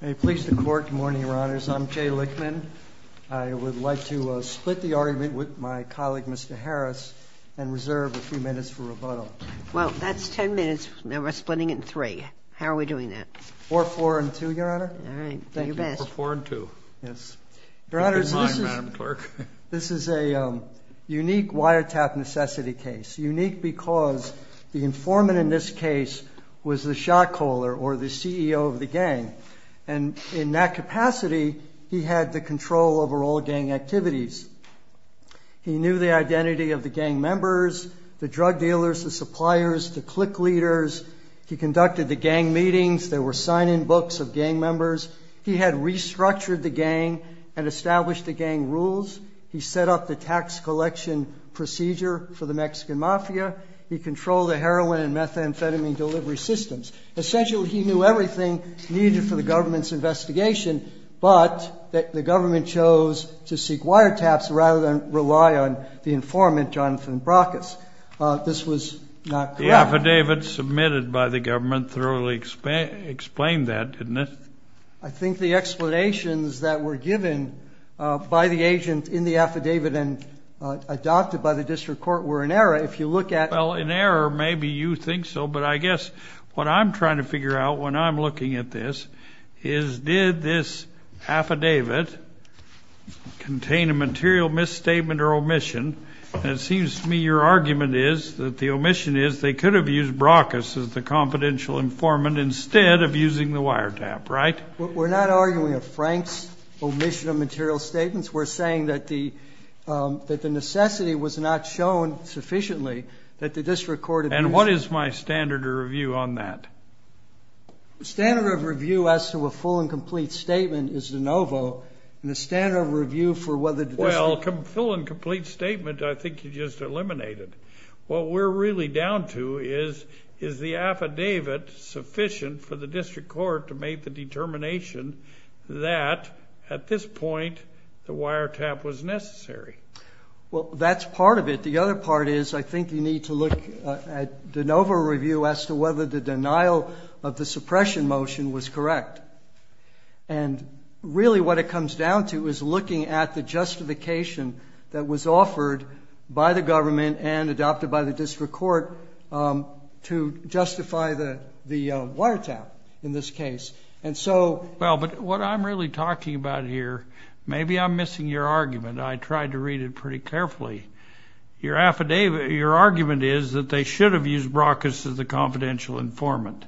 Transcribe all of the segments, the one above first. May it please the Court, good morning, Your Honors. I'm Jay Lichtman. I would like to split the argument with my colleague, Mr. Harris, and reserve a few minutes for rebuttal. Well, that's ten minutes, and we're splitting it in three. How are we doing that? Four, four, and two, Your Honor. All right. Do your best. Four, four, and two. Your Honors, this is a unique wiretap necessity case. It's unique because the informant in this case was the shot caller or the CEO of the gang, and in that capacity he had the control over all gang activities. He knew the identity of the gang members, the drug dealers, the suppliers, the clique leaders. He conducted the gang meetings. There were sign-in books of gang members. He had restructured the gang and established the gang rules. He set up the tax collection procedure for the Mexican mafia. He controlled the heroin and methamphetamine delivery systems. Essentially, he knew everything needed for the government's investigation, but the government chose to seek wiretaps rather than rely on the informant, Jonathan Brockes. This was not correct. The affidavit submitted by the government thoroughly explained that, didn't it? I think the explanations that were given by the agent in the affidavit and adopted by the district court were in error. If you look at- Well, in error, maybe you think so, but I guess what I'm trying to figure out when I'm looking at this is, did this affidavit contain a material misstatement or omission? And it seems to me your argument is that the omission is they could have used Brockes as the confidential informant instead of using the wiretap, right? We're not arguing a frank omission of material statements. We're saying that the necessity was not shown sufficiently that the district court- And what is my standard of review on that? The standard of review as to a full and complete statement is de novo, and the standard of review for whether the district- Well, full and complete statement I think you just eliminated. What we're really down to is, is the affidavit sufficient for the district court to make the determination that at this point the wiretap was necessary? Well, that's part of it. The other part is I think you need to look at de novo review as to whether the denial of the suppression motion was correct. And really what it comes down to is looking at the justification that was offered by the government and adopted by the district court to justify the wiretap in this case. And so- Well, but what I'm really talking about here, maybe I'm missing your argument. I tried to read it pretty carefully. Your argument is that they should have used Brockes as the confidential informant,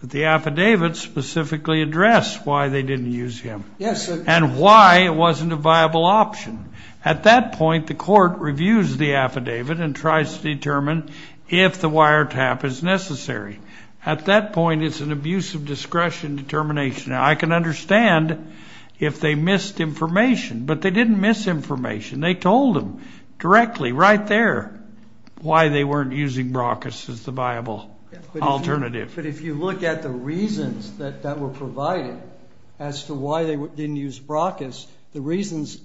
but the affidavit specifically addressed why they didn't use him- Yes, sir. And why it wasn't a viable option. At that point, the court reviews the affidavit and tries to determine if the wiretap is necessary. At that point, it's an abuse of discretion determination. I can understand if they missed information, but they didn't miss information. They told them directly right there why they weren't using Brockes as the viable alternative. But if you look at the reasons that were provided as to why they didn't use Brockes, the reasons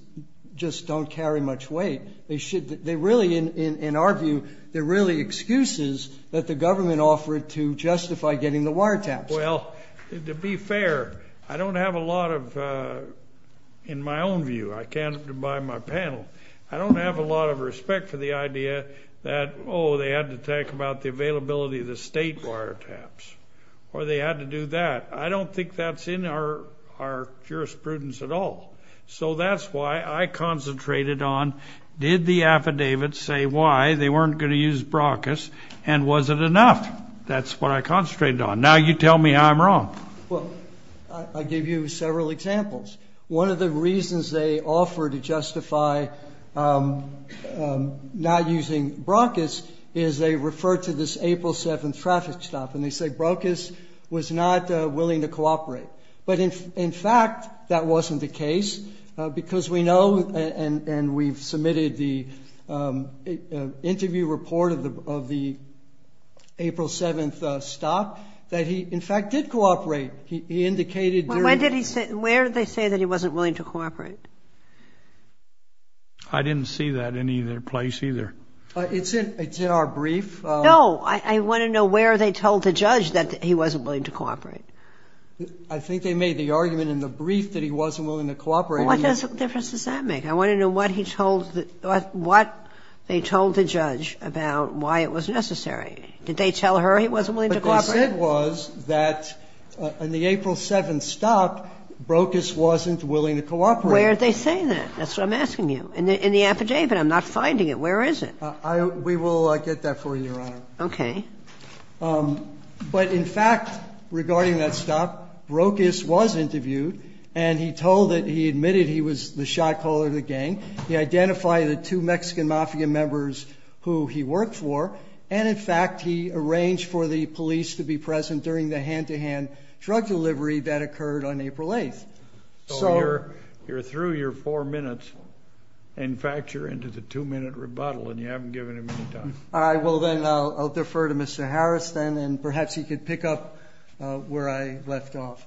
just don't carry much weight. They really, in our view, they're really excuses that the government offered to justify getting the wiretaps. Well, to be fair, I don't have a lot of, in my own view, I can't by my panel, I don't have a lot of respect for the idea that, oh, they had to talk about the availability of the state wiretaps or they had to do that. I don't think that's in our jurisprudence at all. So that's why I concentrated on did the affidavit say why they weren't going to use Brockes and was it enough? That's what I concentrated on. Now you tell me I'm wrong. Well, I gave you several examples. One of the reasons they offer to justify not using Brockes is they refer to this April 7th traffic stop and they say Brockes was not willing to cooperate. But, in fact, that wasn't the case because we know and we've submitted the interview report of the April 7th stop that he, in fact, did cooperate. He indicated during... But when did he say, where did they say that he wasn't willing to cooperate? I didn't see that in either place either. It's in our brief. No. I want to know where they told the judge that he wasn't willing to cooperate. I think they made the argument in the brief that he wasn't willing to cooperate. What difference does that make? I want to know what he told, what they told the judge about why it was necessary. Did they tell her he wasn't willing to cooperate? What they said was that in the April 7th stop, Brockes wasn't willing to cooperate. Where did they say that? That's what I'm asking you. In the affidavit. I'm not finding it. Where is it? We will get that for you, Your Honor. Okay. But, in fact, regarding that stop, Brockes was interviewed and he told that he admitted he was the shot caller of the gang. He identified the two Mexican Mafia members who he worked for. And, in fact, he arranged for the police to be present during the hand-to-hand drug delivery that occurred on April 8th. So you're through your four minutes. In fact, you're into the two-minute rebuttal and you haven't given him any time. All right. Well, then, I'll defer to Mr. Harris, then, and perhaps he could pick up where I left off.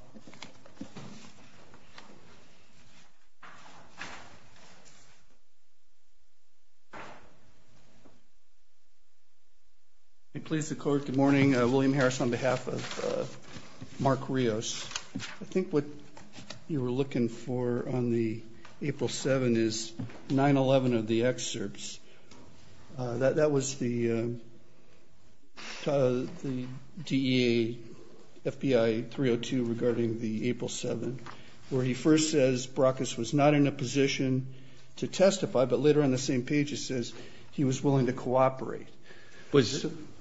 Please, the Court, good morning. William Harris on behalf of Mark Rios. I think what you were looking for on the April 7th is 9-11 of the excerpts. That was the DEA FBI 302 regarding the April 7th, where he first says Brockes was not in a position to testify, but later on the same page it says he was willing to cooperate.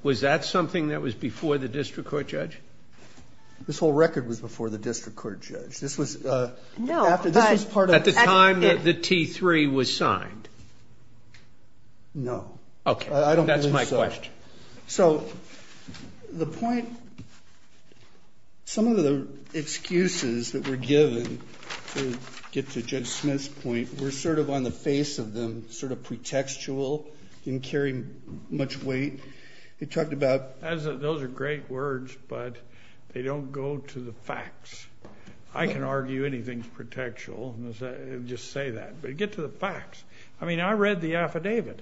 Was that something that was before the district court, Judge? This whole record was before the district court, Judge. No. At the time the T3 was signed? No. Okay. That's my question. So the point, some of the excuses that were given to get to Judge Smith's point were sort of on the face of them, sort of pretextual, didn't carry much weight. Those are great words, but they don't go to the facts. I can argue anything's pretextual and just say that, but get to the facts. I mean, I read the affidavit.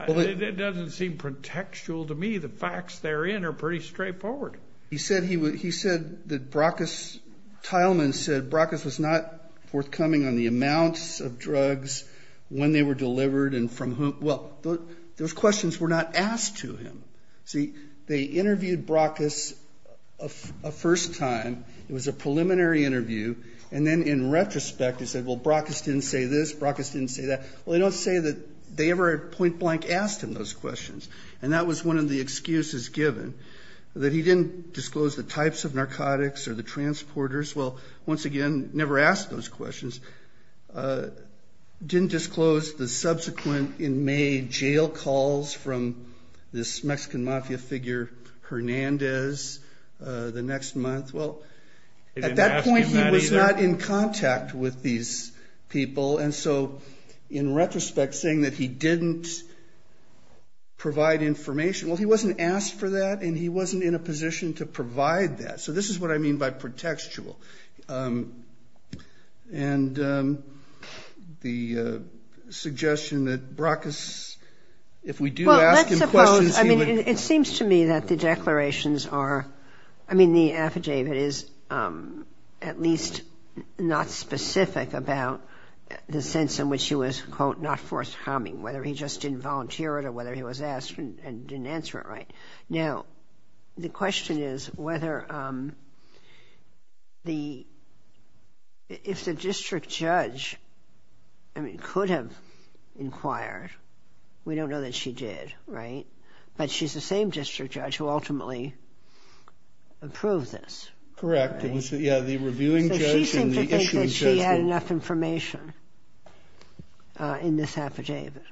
It doesn't seem pretextual to me. The facts therein are pretty straightforward. He said that Brockes, Tileman said Brockes was not forthcoming on the amounts of drugs, when they were delivered and from whom. Well, those questions were not asked to him. See, they interviewed Brockes a first time. It was a preliminary interview, and then in retrospect he said, well, Brockes didn't say this, Brockes didn't say that. Well, they don't say that they ever point blank asked him those questions, and that was one of the excuses given, that he didn't disclose the types of narcotics or the transporters. Well, once again, never asked those questions. Didn't disclose the subsequent in May jail calls from this Mexican mafia figure Hernandez the next month. Well, at that point he was not in contact with these people, and so in retrospect saying that he didn't provide information, well, he wasn't asked for that, and he wasn't in a position to provide that. So this is what I mean by pretextual. And the suggestion that Brockes, if we do ask him questions, he would. Well, let's suppose, I mean, it seems to me that the declarations are, I mean, the affidavit is at least not specific about the sense in which he was, quote, not forthcoming, whether he just didn't volunteer it or whether he was asked and didn't answer it right. Now, the question is whether the, if the district judge, I mean, could have inquired. We don't know that she did, right? But she's the same district judge who ultimately approved this. Correct. It was, yeah, the reviewing judge and the issuing judge. So she seemed to think that she had enough information in this affidavit.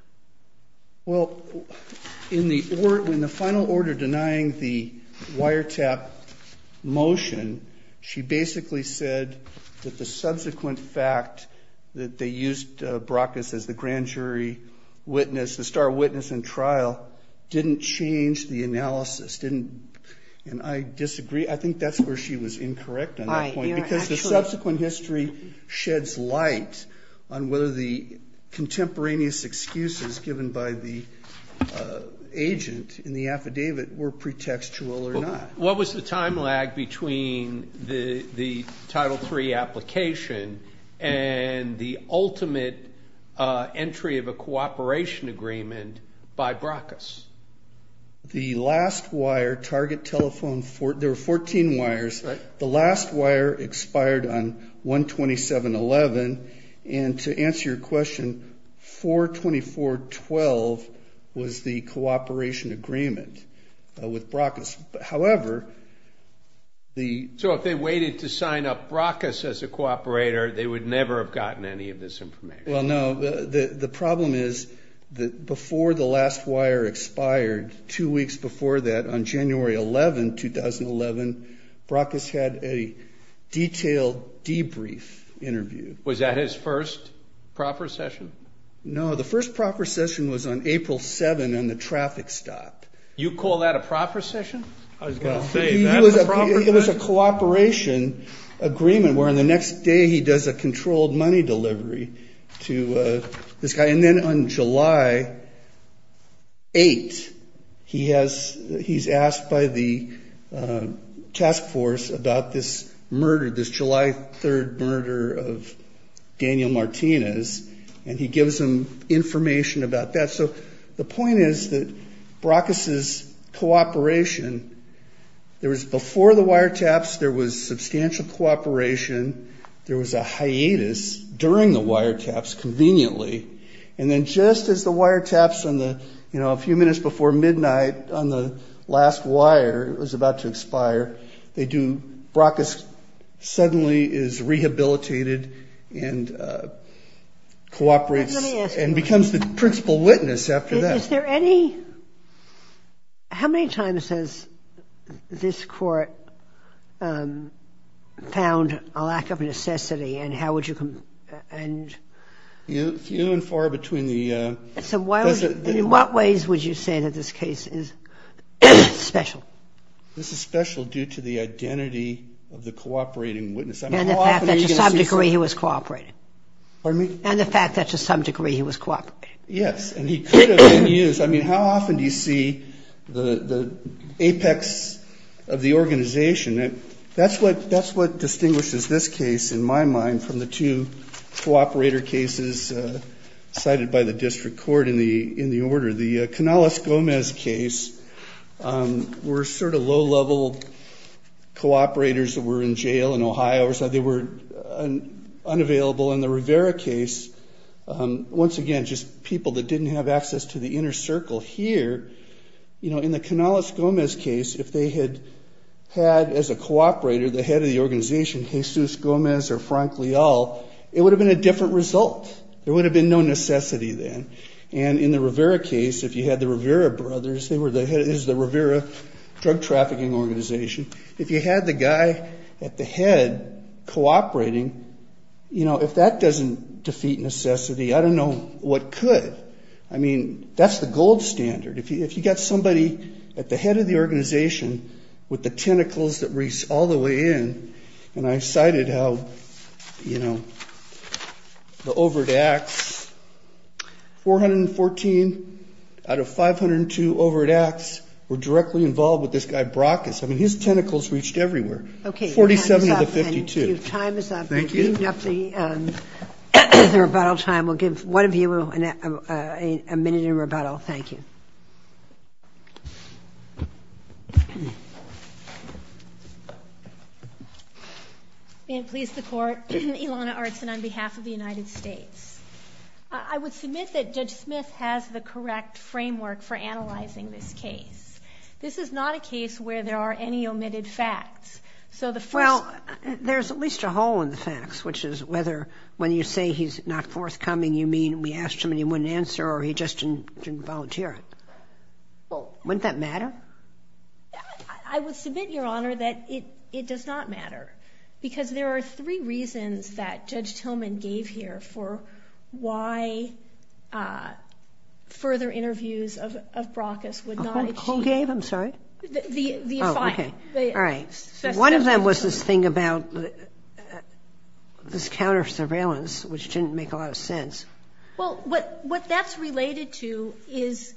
Well, in the final order denying the wiretap motion, she basically said that the subsequent fact that they used Brockes as the grand jury witness, the star witness in trial, didn't change the analysis, didn't, and I disagree. I think that's where she was incorrect on that point. Because the subsequent history sheds light on whether the contemporaneous excuses given by the agent in the affidavit were pretextual or not. What was the time lag between the Title III application and the ultimate entry of a cooperation agreement by Brockes? The last wire, target telephone, there were 14 wires. The last wire expired on 1-27-11. And to answer your question, 4-24-12 was the cooperation agreement with Brockes. However, the ‑‑ So if they waited to sign up Brockes as a cooperator, they would never have gotten any of this information. Well, no. The problem is that before the last wire expired, two weeks before that, on January 11, 2011, Brockes had a detailed debrief interview. Was that his first proper session? No. The first proper session was on April 7 on the traffic stop. You call that a proper session? I was going to say, that's a proper session. It was a cooperation agreement where the next day he does a controlled money delivery to this guy. And then on July 8, he's asked by the task force about this murder, this July 3 murder of Daniel Martinez. And he gives them information about that. So the point is that Brockes' cooperation, there was before the wiretaps, there was substantial cooperation. There was a hiatus during the wiretaps conveniently. And then just as the wiretaps on the, you know, a few minutes before midnight on the last wire, it was about to expire, they do, Brockes suddenly is rehabilitated and cooperates. Let me ask you. And becomes the principal witness after that. Is there any, how many times has this court found a lack of necessity and how would you, and. Few and far between the. In what ways would you say that this case is special? This is special due to the identity of the cooperating witness. And the fact that to some degree he was cooperating. Pardon me? And the fact that to some degree he was cooperating. Yes. And he could have been used. I mean, how often do you see the apex of the organization? That's what distinguishes this case in my mind from the two cooperator cases cited by the district court in the order. The Canales-Gomez case were sort of low-level cooperators that were in jail in Ohio or something. They were unavailable. In the Rivera case, once again, just people that didn't have access to the inner circle here. You know, in the Canales-Gomez case, if they had had as a cooperator, the head of the organization, Jesus Gomez or Frank Leal, it would have been a different result. There would have been no necessity then. And in the Rivera case, if you had the Rivera brothers, they were the head, this is the Rivera drug trafficking organization. If you had the guy at the head cooperating, you know, if that doesn't defeat necessity, I don't know what could. I mean, that's the gold standard. If you've got somebody at the head of the organization with the tentacles that reach all the way in, and I cited how, you know, the Overt Acts, 414 out of 502 Overt Acts were directly involved with this guy Brockes. I mean, his tentacles reached everywhere. 47 of the 52. Thank you. The time is up. We've given up the rebuttal time. We'll give one of you a minute in rebuttal. Thank you. May it please the Court. Ilana Artsin on behalf of the United States. I would submit that Judge Smith has the correct framework for analyzing this case. This is not a case where there are any omitted facts. Well, there's at least a hole in the facts, which is whether when you say he's not forthcoming, you mean we asked him and he wouldn't answer or he just didn't volunteer it. Wouldn't that matter? I would submit, Your Honor, that it does not matter because there are three reasons that Judge Tillman gave here for why further interviews of Brockes would not achieve. Who gave them? I'm sorry. Oh, okay. All right. One of them was this thing about this counter-surveillance, which didn't make a lot of sense. Well, what that's related to is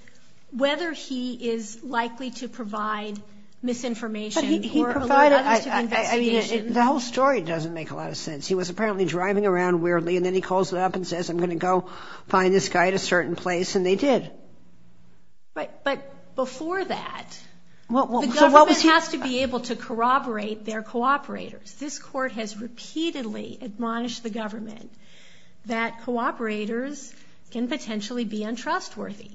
whether he is likely to provide misinformation or alert others to the investigation. But he provided, I mean, the whole story doesn't make a lot of sense. He was apparently driving around weirdly, and then he calls it up and says, I'm going to go find this guy at a certain place, and they did. But before that, the government has to be able to corroborate their cooperators. This Court has repeatedly admonished the government that cooperators can potentially be untrustworthy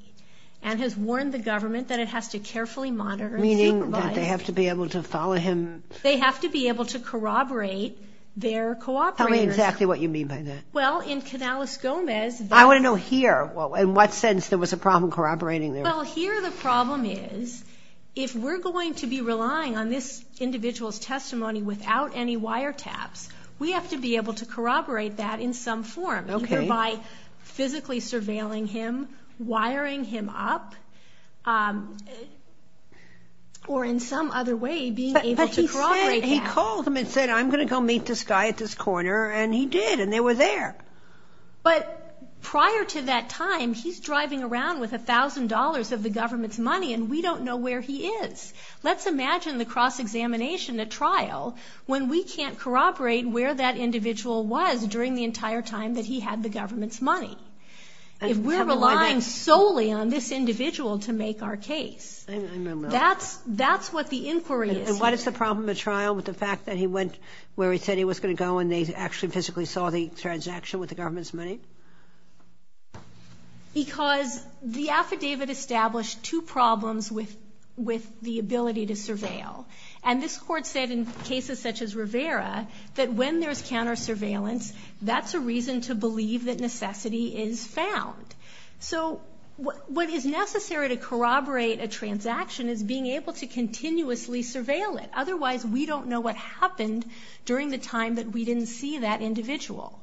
and has warned the government that it has to carefully monitor and supervise. Meaning that they have to be able to follow him? They have to be able to corroborate their cooperators. Tell me exactly what you mean by that. Well, in Canales-Gomez. I want to know here, in what sense there was a problem corroborating their. Well, here the problem is if we're going to be relying on this individual's testimony without any wiretaps, we have to be able to corroborate that in some form, either by physically surveilling him, He called him and said, I'm going to go meet this guy at this corner, and he did, and they were there. But prior to that time, he's driving around with $1,000 of the government's money, and we don't know where he is. Let's imagine the cross-examination at trial when we can't corroborate where that individual was during the entire time that he had the government's money. If we're relying solely on this individual to make our case, that's what the inquiry is here. Why does the problem at trial with the fact that he went where he said he was going to go and they actually physically saw the transaction with the government's money? Because the affidavit established two problems with the ability to surveil. And this Court said in cases such as Rivera that when there's counter-surveillance, that's a reason to believe that necessity is found. So what is necessary to corroborate a transaction is being able to continuously surveil it. Otherwise, we don't know what happened during the time that we didn't see that individual.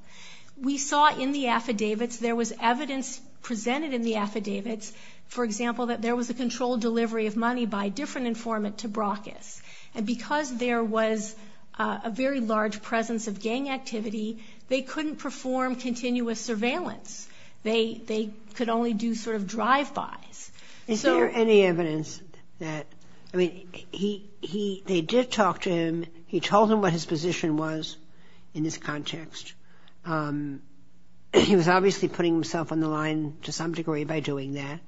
We saw in the affidavits, there was evidence presented in the affidavits, for example, that there was a controlled delivery of money by a different informant to Brockes. And because there was a very large presence of gang activity, they couldn't perform continuous surveillance. They could only do sort of drive-bys. Is there any evidence that, I mean, they did talk to him. He told them what his position was in this context. He was obviously putting himself on the line to some degree by doing that.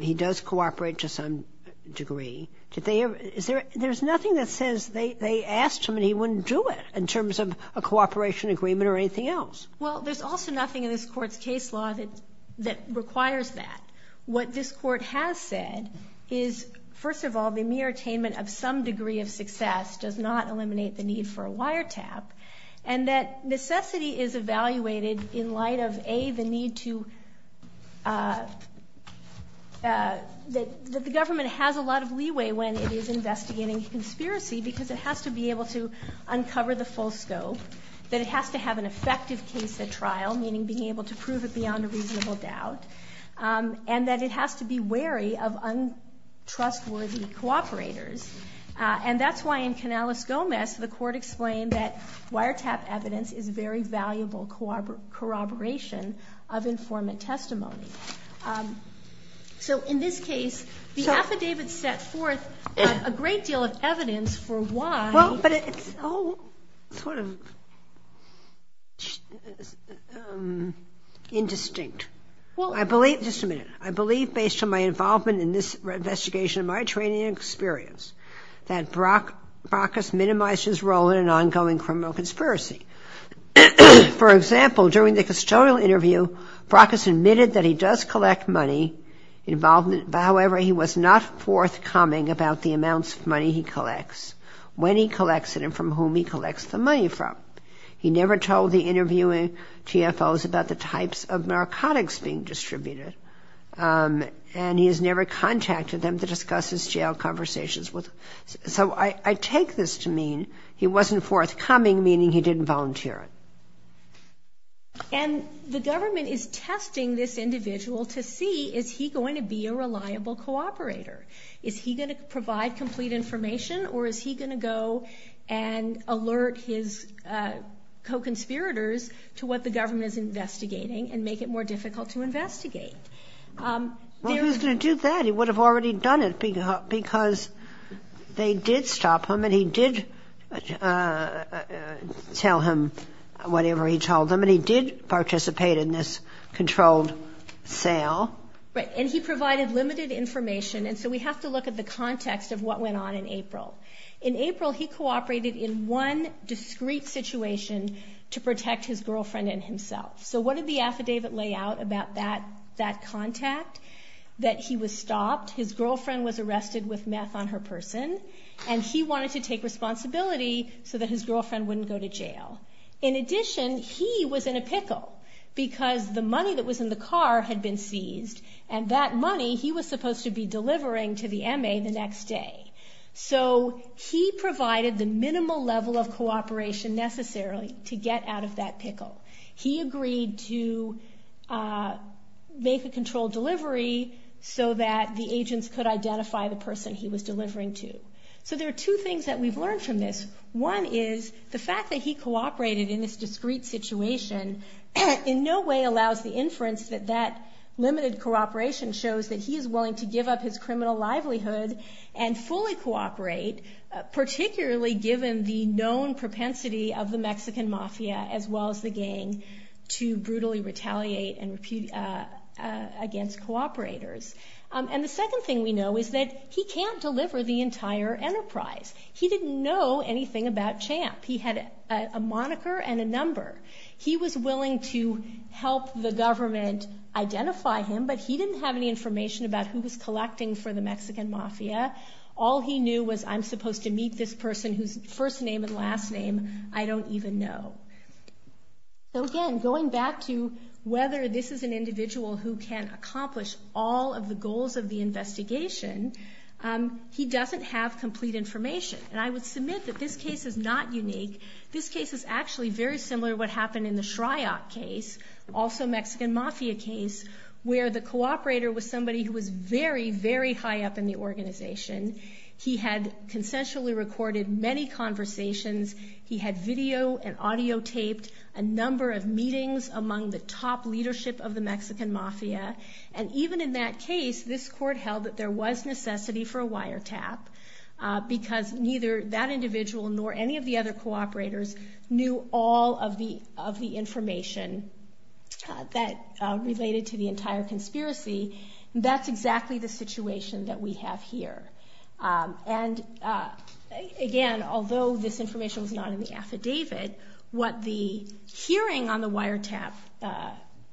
He does cooperate to some degree. There's nothing that says they asked him and he wouldn't do it in terms of a cooperation agreement or anything else. Well, there's also nothing in this court's case law that requires that. What this court has said is, first of all, the mere attainment of some degree of success does not eliminate the need for a wiretap, and that necessity is evaluated in light of, A, the need to, that the government has a lot of leeway when it is investigating a conspiracy because it has to be able to uncover the full scope, that it has to have an effective case at trial, meaning being able to prove it beyond a reasonable doubt, and that it has to be wary of untrustworthy cooperators. And that's why in Canales-Gomez, the court explained that wiretap evidence is very valuable corroboration of informant testimony. So in this case, the affidavit set forth a great deal of evidence for why. Well, but it's all sort of indistinct. Well, I believe, just a minute, I believe based on my involvement in this investigation and my training and experience that Brockes minimized his role in an ongoing criminal conspiracy. For example, during the custodial interview, Brockes admitted that he does collect money, however, he was not forthcoming about the amounts of money he collects. When he collects it and from whom he collects the money from. He never told the interviewing TFOs about the types of narcotics being distributed, and he has never contacted them to discuss his jail conversations with them. So I take this to mean he wasn't forthcoming, meaning he didn't volunteer it. And the government is testing this individual to see, is he going to be a reliable cooperator? Is he going to provide complete information, or is he going to go and alert his co-conspirators to what the government is investigating and make it more difficult to investigate? Well, if he was going to do that, he would have already done it because they did stop him, and he did tell him whatever he told them, and he did participate in this controlled sale. Right, and he provided limited information, and so we have to look at the context of what went on in April. In April, he cooperated in one discreet situation to protect his girlfriend and himself. So what did the affidavit lay out about that contact? That he was stopped, his girlfriend was arrested with meth on her person, and he wanted to take responsibility so that his girlfriend wouldn't go to jail. In addition, he was in a pickle because the money that was in the car had been seized, and that money he was supposed to be delivering to the MA the next day. So he provided the minimal level of cooperation necessarily to get out of that pickle. He agreed to make a controlled delivery so that the agents could identify the person he was delivering to. So there are two things that we've learned from this. One is the fact that he cooperated in this discreet situation in no way allows the inference that that limited cooperation shows that he is willing to give up his criminal livelihood and fully cooperate, particularly given the known propensity of the Mexican mafia as well as the gang to brutally retaliate against cooperators. And the second thing we know is that he can't deliver the entire enterprise. He didn't know anything about CHAMP. He had a moniker and a number. He was willing to help the government identify him, but he didn't have any information about who he was collecting for the Mexican mafia. All he knew was, I'm supposed to meet this person whose first name and last name I don't even know. So again, going back to whether this is an individual who can accomplish all of the goals of the investigation, he doesn't have complete information. And I would submit that this case is not unique. This case is actually very similar to what happened in the Shriot case, also a Mexican mafia case, where the cooperator was somebody who was very, very high up in the organization. He had consensually recorded many conversations. He had video and audio taped a number of meetings among the top leadership of the Mexican mafia. And even in that case, this court held that there was necessity for a wiretap because neither that individual nor any of the other cooperators knew all of the information that related to the entire conspiracy. That's exactly the situation that we have here. And again, although this information was not in the affidavit, what the hearing on the wiretap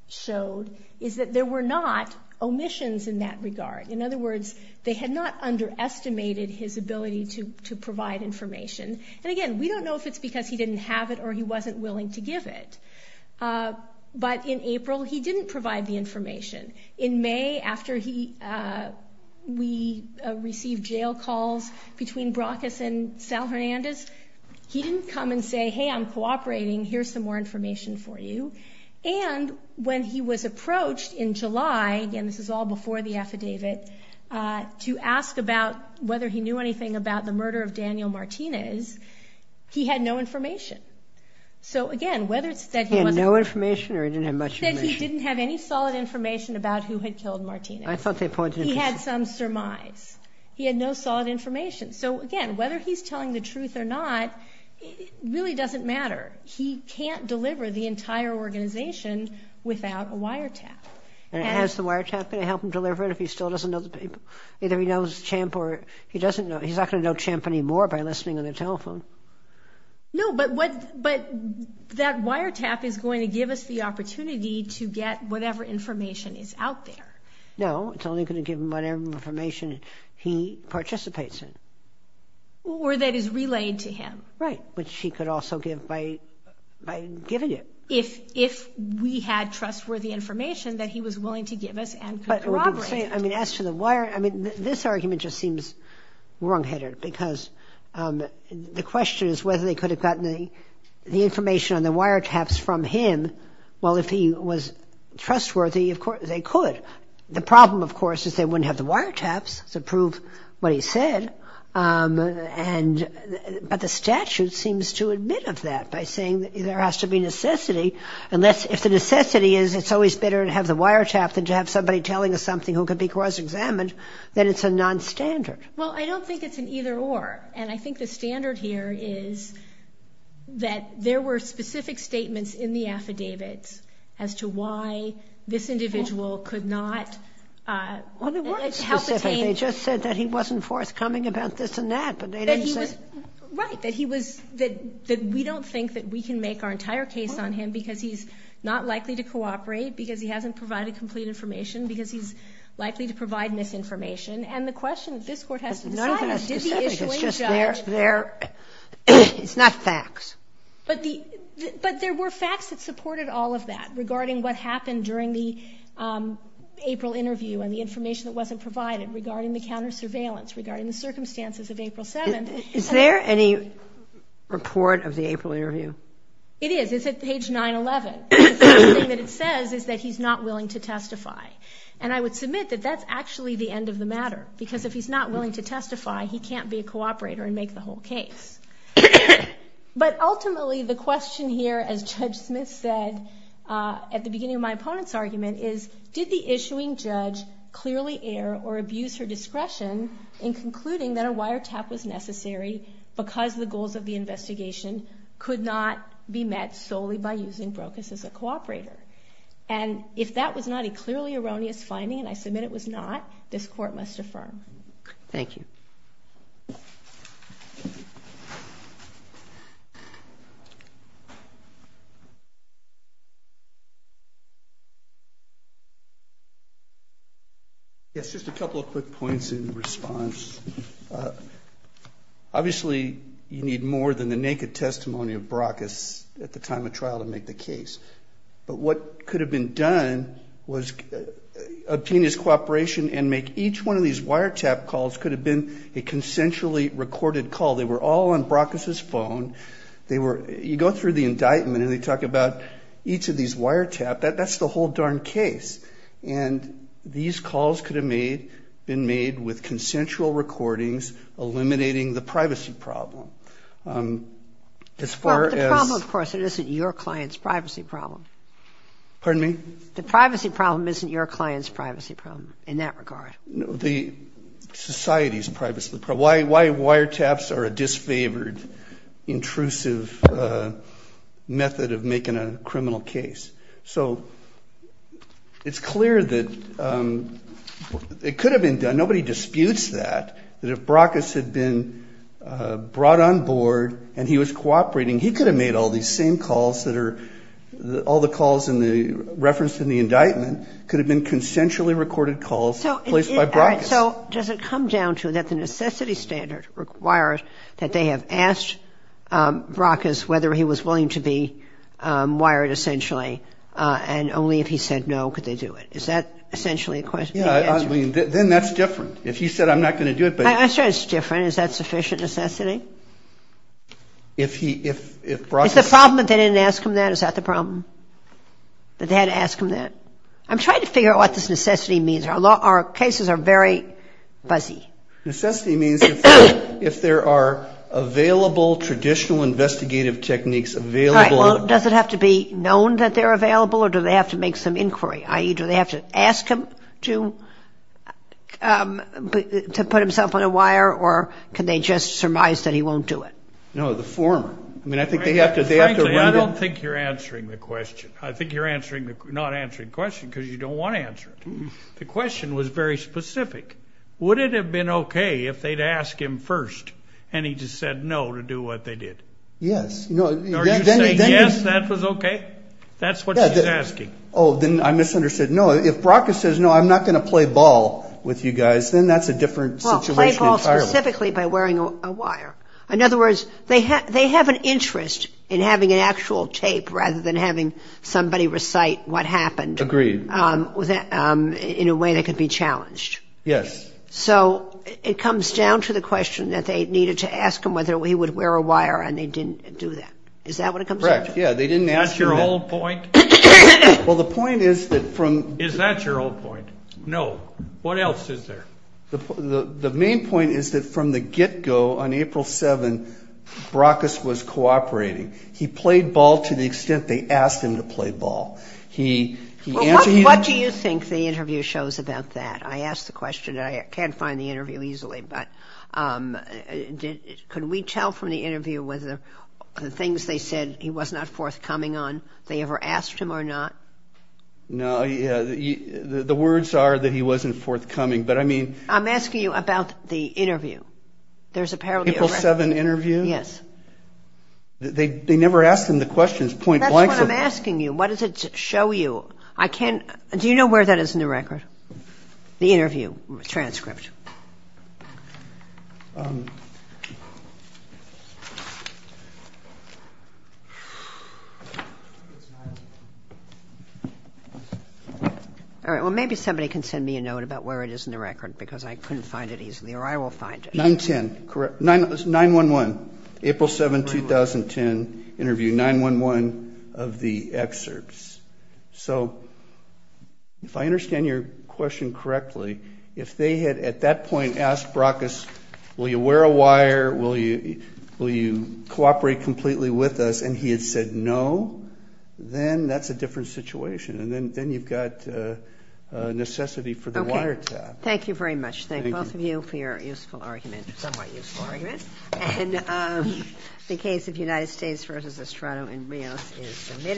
showed is that there were not omissions in that regard. In other words, they had not underestimated his ability to provide information. And again, we don't know if it's because he didn't have it or he wasn't willing to give it. But in April, he didn't provide the information. In May, after we received jail calls between Bracas and Sal Hernandez, he didn't come and say, hey, I'm cooperating. Here's some more information for you. And when he was approached in July, and this is all before the affidavit, to ask about whether he knew anything about the murder of Daniel Martinez, he had no information. So, again, whether it's that he wasn't… He had no information or he didn't have much information? He said he didn't have any solid information about who had killed Martinez. I thought they pointed to… He had some surmise. He had no solid information. So, again, whether he's telling the truth or not, it really doesn't matter. He can't deliver the entire organization without a wiretap. And is the wiretap going to help him deliver it if he still doesn't know the people? Either he knows Champ or he doesn't know. He's not going to know Champ anymore by listening on the telephone. No, but that wiretap is going to give us the opportunity to get whatever information is out there. No, it's only going to give him whatever information he participates in. Or that is relayed to him. Right, which he could also give by giving it. If we had trustworthy information that he was willing to give us and could corroborate. I mean, as to the wire… I mean, this argument just seems wrong-headed because the question is whether they could have gotten the information on the wiretaps from him. Well, if he was trustworthy, of course, they could. The problem, of course, is they wouldn't have the wiretaps to prove what he said. But the statute seems to admit of that by saying there has to be necessity. If the necessity is it's always better to have the wiretap than to have somebody telling us something who could be cross-examined, then it's a non-standard. Well, I don't think it's an either-or. And I think the standard here is that there were specific statements in the affidavits as to why this individual could not help obtain… Well, they weren't specific. They just said that he wasn't forthcoming about this and that. But they didn't say… Right. That he was – that we don't think that we can make our entire case on him because he's not likely to cooperate, because he hasn't provided complete information, because he's likely to provide misinformation. And the question that this Court has to decide is did the issuing judge… It's not facts. But there were facts that supported all of that regarding what happened during the April interview and the information that wasn't provided regarding the counter-surveillance, regarding the circumstances of April 7th. Is there any report of the April interview? It is. It's at page 911. The first thing that it says is that he's not willing to testify. And I would submit that that's actually the end of the matter because if he's not willing to testify, he can't be a cooperator and make the whole case. But ultimately, the question here, as Judge Smith said at the beginning of my opponent's argument, is did the issuing judge clearly err or abuse her discretion in concluding that a wiretap was necessary because the goals of the investigation could not be met solely by using Brokus as a cooperator? And if that was not a clearly erroneous finding, and I submit it was not, this Court must affirm. Thank you. Thank you. Yes, just a couple of quick points in response. Obviously, you need more than the naked testimony of Brokus at the time of trial to make the case. But what could have been done was a penis cooperation and make each one of these wiretap calls could have been a consensually recorded call. They were all on Brokus's phone. You go through the indictment and they talk about each of these wiretap. That's the whole darn case. And these calls could have been made with consensual recordings, eliminating the privacy problem. Well, the problem, of course, isn't your client's privacy problem. Pardon me? The privacy problem isn't your client's privacy problem in that regard. The society's privacy problem. Why wiretaps are a disfavored, intrusive method of making a criminal case. So it's clear that it could have been done. Nobody disputes that, that if Brokus had been brought on board and he was cooperating, he could have made all these same calls that are all the calls referenced in the indictment could have been consensually recorded calls placed by Brokus. So does it come down to that the necessity standard requires that they have asked Brokus whether he was willing to be wired essentially and only if he said no could they do it? Is that essentially the question? Yeah, I mean, then that's different. If he said I'm not going to do it. My answer is different. Is that sufficient necessity? If he, if Brokus... Is the problem that they didn't ask him that, is that the problem? That they had to ask him that? I'm trying to figure out what this necessity means. Our cases are very fuzzy. Necessity means if there are available traditional investigative techniques available... All right, well, does it have to be known that they're available or do they have to make some inquiry, i.e., do they have to ask him to put himself on a wire or can they just surmise that he won't do it? No, the former. I mean, I think they have to... Frankly, I don't think you're answering the question. I think you're not answering the question because you don't want to answer it. The question was very specific. Would it have been okay if they'd asked him first and he just said no to do what they did? Yes. Are you saying yes, that was okay? That's what she's asking. Oh, then I misunderstood. No, if Brokus says no, I'm not going to play ball with you guys, then that's a different situation entirely. Well, play ball specifically by wearing a wire. In other words, they have an interest in having an actual tape rather than having somebody recite what happened... Agreed. ...in a way that could be challenged. Yes. So it comes down to the question that they needed to ask him whether he would wear a wire and they didn't do that. Is that what it comes down to? Correct. Yeah, they didn't ask him that. Is that your whole point? Well, the point is that from... Is that your whole point? No. What else is there? The main point is that from the get-go on April 7, Brokus was cooperating. He played ball to the extent they asked him to play ball. He answered... Well, what do you think the interview shows about that? I asked the question and I can't find the interview easily, but could we tell from the interview whether the things they said he was not forthcoming on, they ever asked him or not? No, the words are that he wasn't forthcoming, but I mean... I'm asking you about the interview. There's apparently a record. April 7 interview? Yes. They never asked him the questions point-blank. That's what I'm asking you. What does it show you? I can't... Do you know where that is in the record, the interview transcript? All right, well, maybe somebody can send me a note about where it is in the record because I couldn't find it easily, or I will find it. 9-10, correct. 9-1-1, April 7, 2010 interview, 9-1-1 of the excerpts. So if I understand your question correctly, if they had, at that point in time, asked Baracus, will you wear a wire, will you cooperate completely with us, and he had said no, then that's a different situation, and then you've got necessity for the wiretap. Thank you very much. Thank both of you for your useful argument, somewhat useful argument. And the case of United States v. Estrada and Rios is submitted.